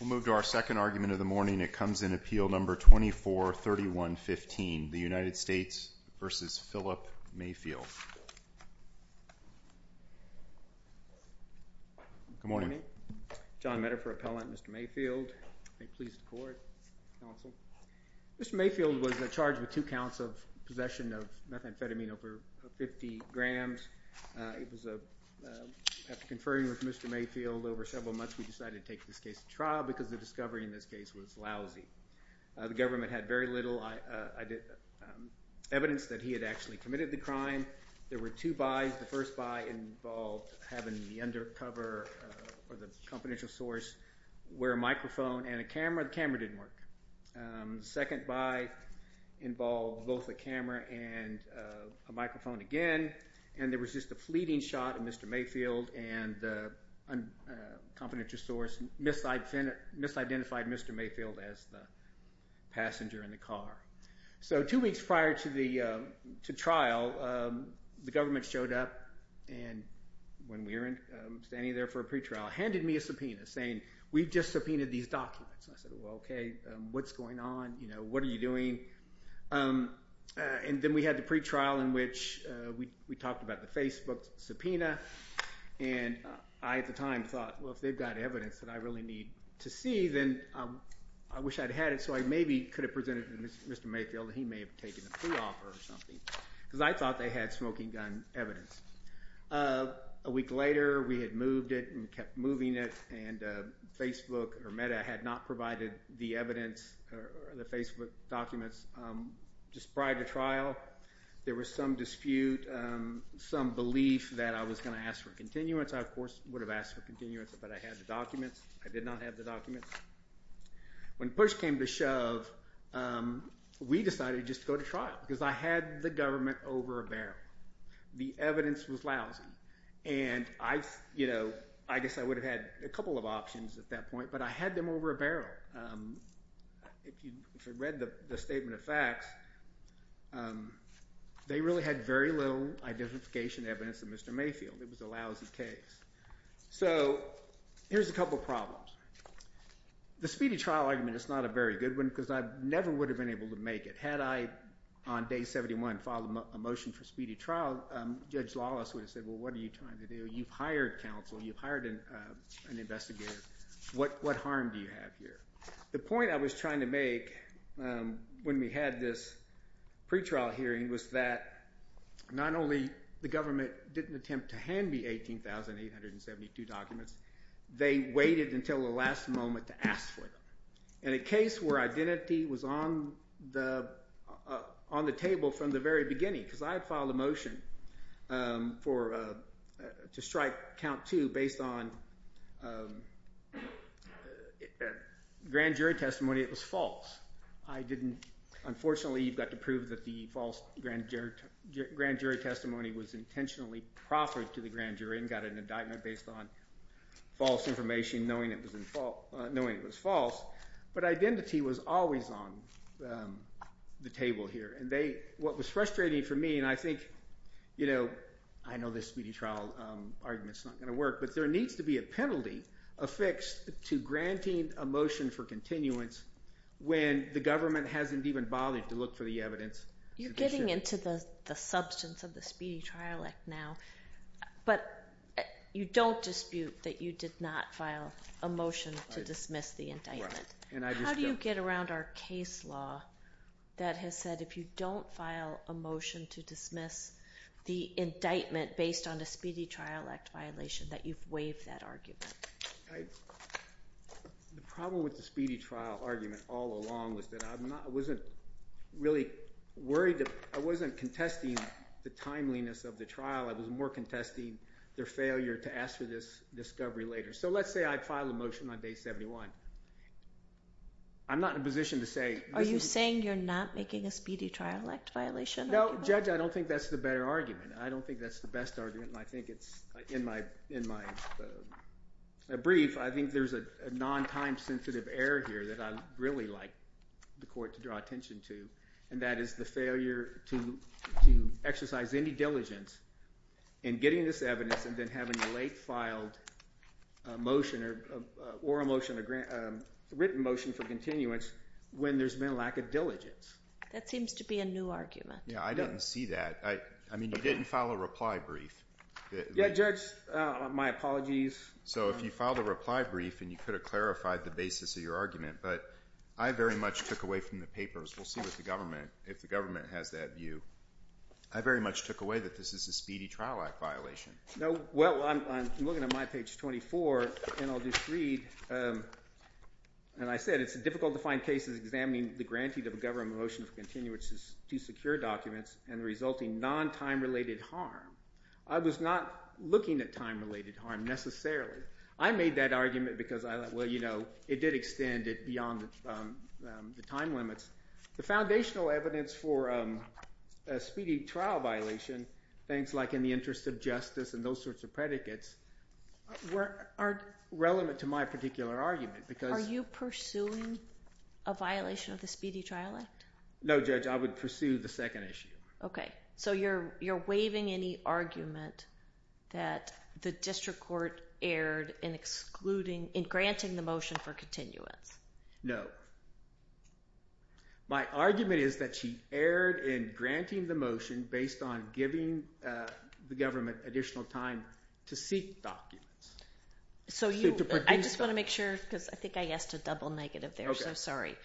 We'll move to our second argument of the morning. It comes in Appeal No. 2431-15, the United States v. Phillip Mayfield. Good morning. John Medifer, Appellant. Mr. Mayfield. Mr. Mayfield was charged with two counts of possession of methamphetamine over 50 grams. After conferring with Mr. Mayfield over several months, we decided to take this case to trial because the discovery in this case was lousy. The government had very little evidence that he had actually committed the crime. There were two buys. The first buy involved having the undercover or the confidential source wear a microphone and a camera. The camera didn't work. The second buy involved both a camera and a microphone again, and there was just a fleeting shot of Mr. Mayfield, and the confidential source misidentified Mr. Mayfield as the passenger in the car. So two weeks prior to trial, the government showed up, and when we were standing there for a pretrial, handed me a subpoena saying, we've just subpoenaed these documents. I said, well, okay, what's going on? What are you doing? And then we had the pretrial in which we talked about the Facebook subpoena, and I at the time thought, well, if they've got evidence that I really need to see, then I wish I'd had it so I maybe could have presented it to Mr. Mayfield and he may have taken a pre-offer or something because I thought they had smoking gun evidence. A week later, we had moved it and kept moving it, and Facebook or Meta had not provided the evidence or the Facebook documents. Just prior to trial, there was some dispute, some belief that I was going to ask for continuance. I, of course, would have asked for continuance, but I had the documents. I did not have the documents. When push came to shove, we decided just to go to trial because I had the government over a barrel. The evidence was lousy, and I guess I would have had a couple of options at that point, but I had them over a barrel. If you read the statement of facts, they really had very little identification evidence of Mr. Mayfield. It was a lousy case. So here's a couple problems. The speedy trial argument is not a very good one because I never would have been able to make it Had I, on day 71, filed a motion for speedy trial, Judge Lawless would have said, well, what are you trying to do? You've hired counsel. You've hired an investigator. What harm do you have here? The point I was trying to make when we had this pretrial hearing was that not only the government didn't attempt to hand me 18,872 documents, they waited until the last moment to ask for them. In a case where identity was on the table from the very beginning, because I had filed a motion to strike count two based on grand jury testimony, it was false. Unfortunately, you've got to prove that the false grand jury testimony was intentionally proffered to the grand jury and got an indictment based on false information, knowing it was false. But identity was always on the table here. What was frustrating for me, and I think I know this speedy trial argument is not going to work, but there needs to be a penalty affixed to granting a motion for continuance when the government hasn't even bothered to look for the evidence. You're getting into the substance of the Speedy Trial Act now, but you don't dispute that you did not file a motion to dismiss the indictment. How do you get around our case law that has said if you don't file a motion to dismiss the indictment based on a Speedy Trial Act violation, that you've waived that argument? The problem with the Speedy Trial argument all along was that I wasn't really worried. I wasn't contesting the timeliness of the trial. I was more contesting their failure to ask for this discovery later. So let's say I file a motion on Day 71. I'm not in a position to say this is— Are you saying you're not making a Speedy Trial Act violation argument? No, Judge, I don't think that's the better argument. I don't think that's the best argument, and I think it's—in my brief, I think there's a non-time-sensitive error here that I'd really like the court to draw attention to, and that is the failure to exercise any diligence in getting this evidence and then having a late-filed motion or a written motion for continuance when there's been a lack of diligence. That seems to be a new argument. Yeah, I didn't see that. I mean you didn't file a reply brief. Yeah, Judge, my apologies. So if you filed a reply brief and you could have clarified the basis of your argument, but I very much took away from the papers. We'll see with the government, if the government has that view. I very much took away that this is a Speedy Trial Act violation. No, well, I'm looking at my page 24, and I'll just read. And I said, it's difficult to find cases examining the granting of a government motion for continuance to secure documents and the resulting non-time-related harm. I was not looking at time-related harm necessarily. I made that argument because I thought, well, you know, it did extend it beyond the time limits. The foundational evidence for a Speedy Trial violation, things like in the interest of justice and those sorts of predicates, aren't relevant to my particular argument. Are you pursuing a violation of the Speedy Trial Act? No, Judge, I would pursue the second issue. Okay, so you're waiving any argument that the district court erred in granting the motion for continuance. No. My argument is that she erred in granting the motion based on giving the government additional time to seek documents. I just want to make sure, because I think I asked a double negative there, so sorry.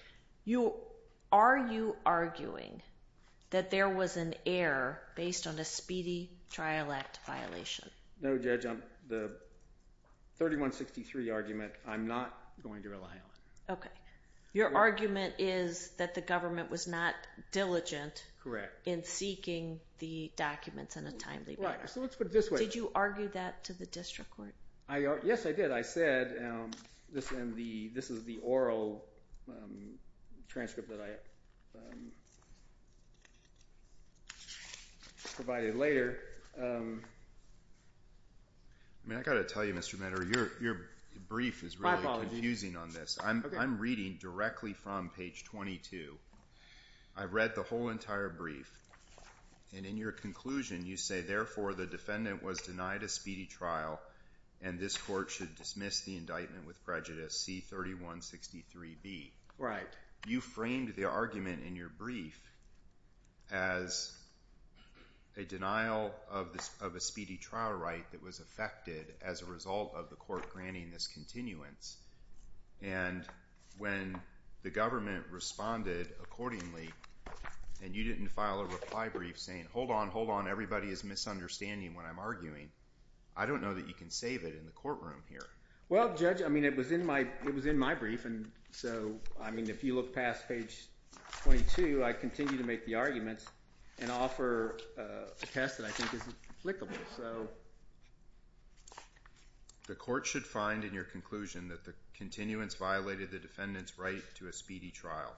Are you arguing that there was an error based on a Speedy Trial Act violation? No, Judge, the 3163 argument, I'm not going to rely on. Okay. Your argument is that the government was not diligent in seeking the documents in a timely manner. Right, so let's put it this way. Did you argue that to the district court? Yes, I did. I said, and this is the oral transcript that I provided later. I mean, I've got to tell you, Mr. Medder, your brief is really confusing on this. I'm reading directly from page 22. I've read the whole entire brief, and in your conclusion, you say, therefore, the defendant was denied a speedy trial, and this court should dismiss the indictment with prejudice, C-3163B. Right. You framed the argument in your brief as a denial of a speedy trial right that was affected as a result of the court granting this continuance. And when the government responded accordingly and you didn't file a reply brief saying, hold on, hold on, everybody is misunderstanding what I'm arguing, I don't know that you can save it in the courtroom here. Well, Judge, I mean, it was in my brief, and so, I mean, if you look past page 22, I continue to make the arguments and offer a test that I think is applicable. The court should find in your conclusion that the continuance violated the defendant's right to a speedy trial.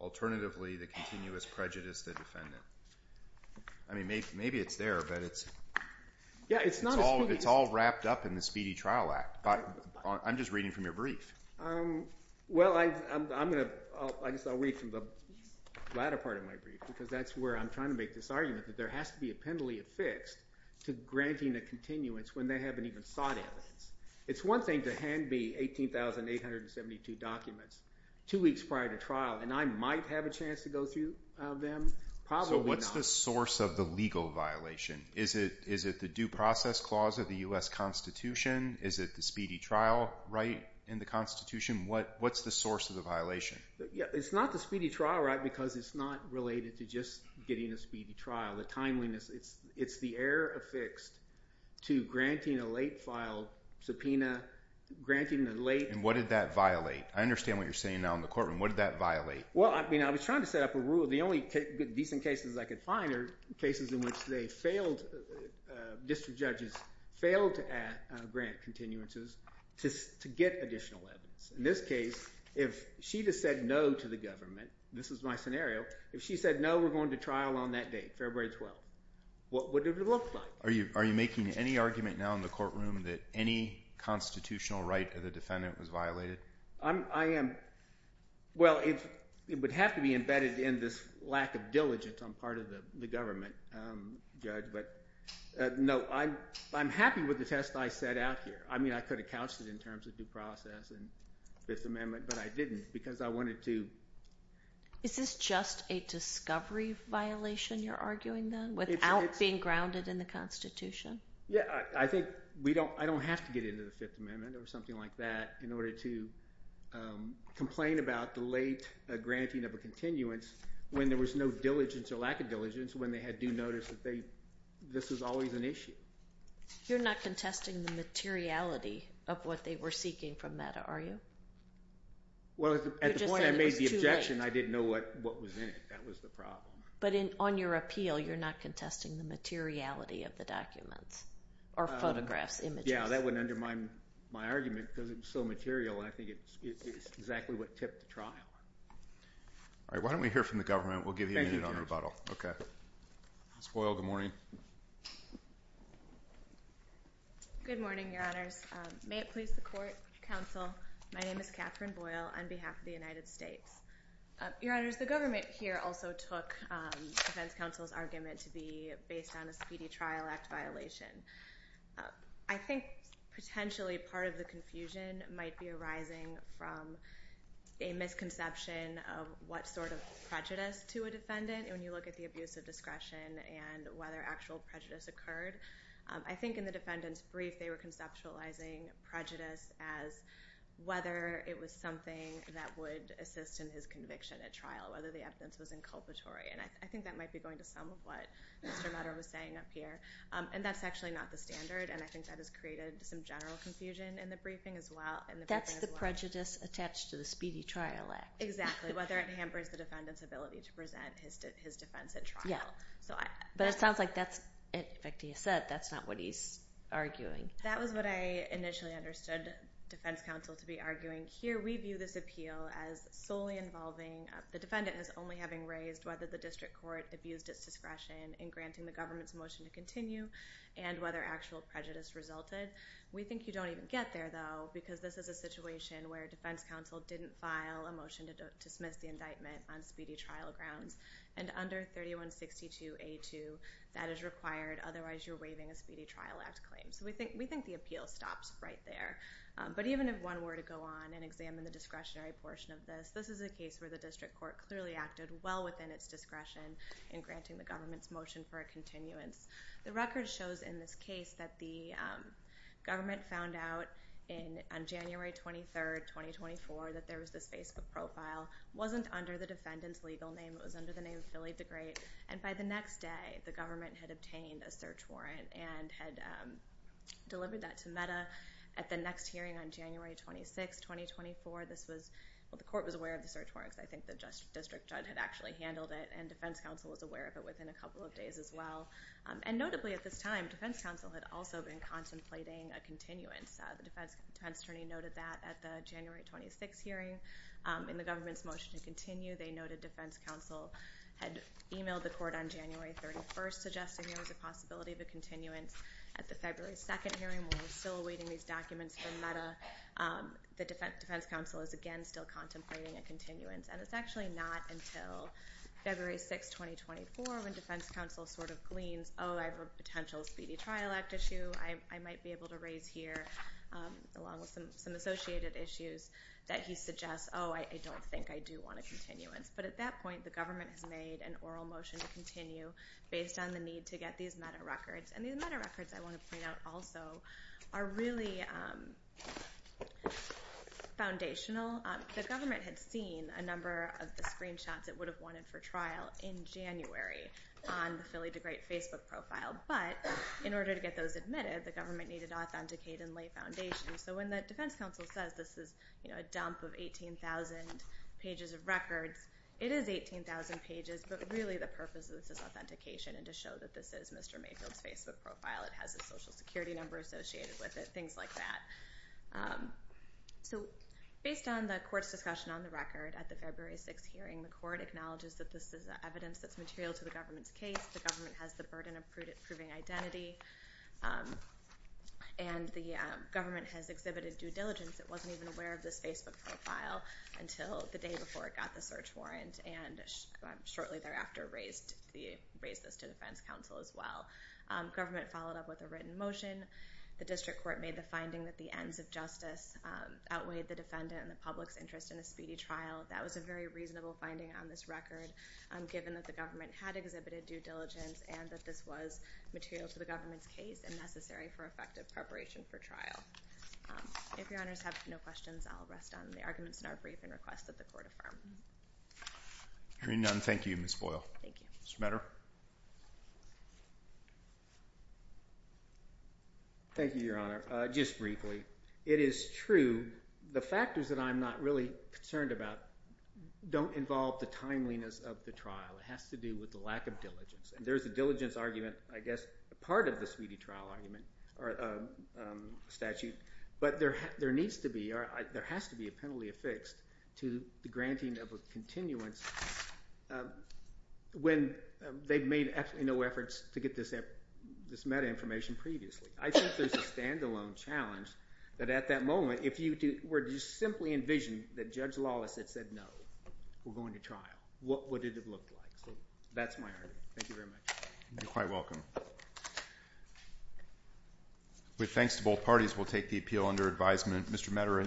Alternatively, the continuance prejudiced the defendant. I mean, maybe it's there, but it's all wrapped up in the Speedy Trial Act. I'm just reading from your brief. Well, I'm going to – I guess I'll read from the latter part of my brief because that's where I'm trying to make this argument, that there has to be a penalty affixed to granting a continuance when they haven't even sought evidence. It's one thing to hand me 18,872 documents two weeks prior to trial, and I might have a chance to go through them. Probably not. So what's the source of the legal violation? Is it the due process clause of the U.S. Constitution? Is it the speedy trial right in the Constitution? What's the source of the violation? It's not the speedy trial right because it's not related to just getting a speedy trial. The timeliness – it's the error affixed to granting a late-file subpoena, granting a late – And what did that violate? I understand what you're saying now in the courtroom. What did that violate? Well, I mean I was trying to set up a rule. The only decent cases I could find are cases in which they failed – district judges failed to grant continuances to get additional evidence. In this case, if she had said no to the government – this is my scenario. If she said no, we're going to trial on that date, February 12th, what would it have looked like? Are you making any argument now in the courtroom that any constitutional right of the defendant was violated? I am – well, it would have to be embedded in this lack of diligence on part of the government, Judge. But no, I'm happy with the test I set out here. I mean I could have couched it in terms of due process and Fifth Amendment, but I didn't because I wanted to – Is this just a discovery violation you're arguing then without being grounded in the Constitution? Yeah, I think we don't – I don't have to get into the Fifth Amendment or something like that in order to complain about the late granting of a continuance when there was no diligence or lack of diligence when they had due notice that this was always an issue. You're not contesting the materiality of what they were seeking from that, are you? Well, at the point I made the objection, I didn't know what was in it. That was the problem. But on your appeal, you're not contesting the materiality of the documents or photographs, images? Yeah, that wouldn't undermine my argument because it was so material. I think it's exactly what tipped the trial. All right, why don't we hear from the government? We'll give you a minute on rebuttal. Ms. Boyle, good morning. Good morning, Your Honors. May it please the Court, Counsel, my name is Catherine Boyle on behalf of the United States. Your Honors, the government here also took defense counsel's argument to be based on a Speedy Trial Act violation. I think potentially part of the confusion might be arising from a misconception of what sort of prejudice to a defendant when you look at the abuse of discretion and whether actual prejudice occurred. I think in the defendant's brief they were conceptualizing prejudice as whether it was something that would assist in his conviction at trial, whether the evidence was inculpatory, and I think that might be going to some of what Mr. Mutter was saying up here. And that's actually not the standard, and I think that has created some general confusion in the briefing as well. That's the prejudice attached to the Speedy Trial Act. Exactly, whether it hampers the defendant's ability to present his defense at trial. Yeah, but it sounds like that's not what he's arguing. That was what I initially understood defense counsel to be arguing. Here we view this appeal as solely involving the defendant as only having raised whether the district court abused its discretion in granting the government's motion to continue and whether actual prejudice resulted. We think you don't even get there, though, because this is a situation where defense counsel didn't file a motion to dismiss the indictment on Speedy Trial grounds, and under 3162A2 that is required, otherwise you're waiving a Speedy Trial Act claim. So we think the appeal stops right there. But even if one were to go on and examine the discretionary portion of this, this is a case where the district court clearly acted well within its discretion in granting the government's motion for a continuance. The record shows in this case that the government found out on January 23, 2024, that there was this Facebook profile. It wasn't under the defendant's legal name. It was under the name of Billy the Great. And by the next day, the government had obtained a search warrant and had delivered that to META. At the next hearing on January 26, 2024, the court was aware of the search warrant. I think the district judge had actually handled it, and defense counsel was aware of it within a couple of days as well. And notably at this time, defense counsel had also been contemplating a continuance. The defense attorney noted that at the January 26 hearing in the government's motion to continue. They noted defense counsel had emailed the court on January 31st, suggesting there was a possibility of a continuance. At the February 2nd hearing, when we're still awaiting these documents from META, the defense counsel is again still contemplating a continuance. And it's actually not until February 6, 2024, when defense counsel sort of gleans, oh, I have a potential speedy trial act issue I might be able to raise here, along with some associated issues, that he suggests, oh, I don't think I do want a continuance. But at that point, the government has made an oral motion to continue based on the need to get these META records. And these META records, I want to point out also, are really foundational. The government had seen a number of the screenshots it would have wanted for trial in January on the Philly DeGrate Facebook profile. But in order to get those admitted, the government needed to authenticate and lay foundation. So when the defense counsel says this is a dump of 18,000 pages of records, it is 18,000 pages. But really the purpose of this is authentication and to show that this is Mr. Mayfield's Facebook profile. It has a social security number associated with it, things like that. So based on the court's discussion on the record at the February 6 hearing, the court acknowledges that this is evidence that's material to the government's case. The government has the burden of proving identity. And the government has exhibited due diligence. It wasn't even aware of this Facebook profile until the day before it got the search warrant, and shortly thereafter raised this to defense counsel as well. Government followed up with a written motion. The district court made the finding that the ends of justice outweighed the defendant and the public's interest in a speedy trial. That was a very reasonable finding on this record, given that the government had exhibited due diligence and that this was material to the government's case and necessary for effective preparation for trial. If your honors have no questions, I'll rest on the arguments in our briefing request that the court affirm. Hearing none, thank you, Ms. Boyle. Thank you. Mr. Matter? Thank you, Your Honor. Just briefly, it is true the factors that I'm not really concerned about don't involve the timeliness of the trial. It has to do with the lack of diligence. And there's a diligence argument, I guess, a part of the speedy trial argument statute. But there needs to be or there has to be a penalty affixed to the granting of a continuance when they've made absolutely no efforts to get this meta information previously. I think there's a standalone challenge that at that moment, if you were to simply envision that Judge Lawless had said no, we're going to trial. What would it have looked like? So that's my argument. Thank you very much. You're quite welcome. With thanks to both parties, we'll take the appeal under advisement. Mr. Matter,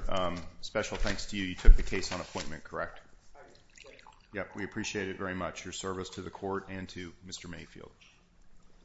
special thanks to you. You took the case on appointment, correct? I did. Yep, we appreciate it very much. Your service to the court and to Mr. Mayfield.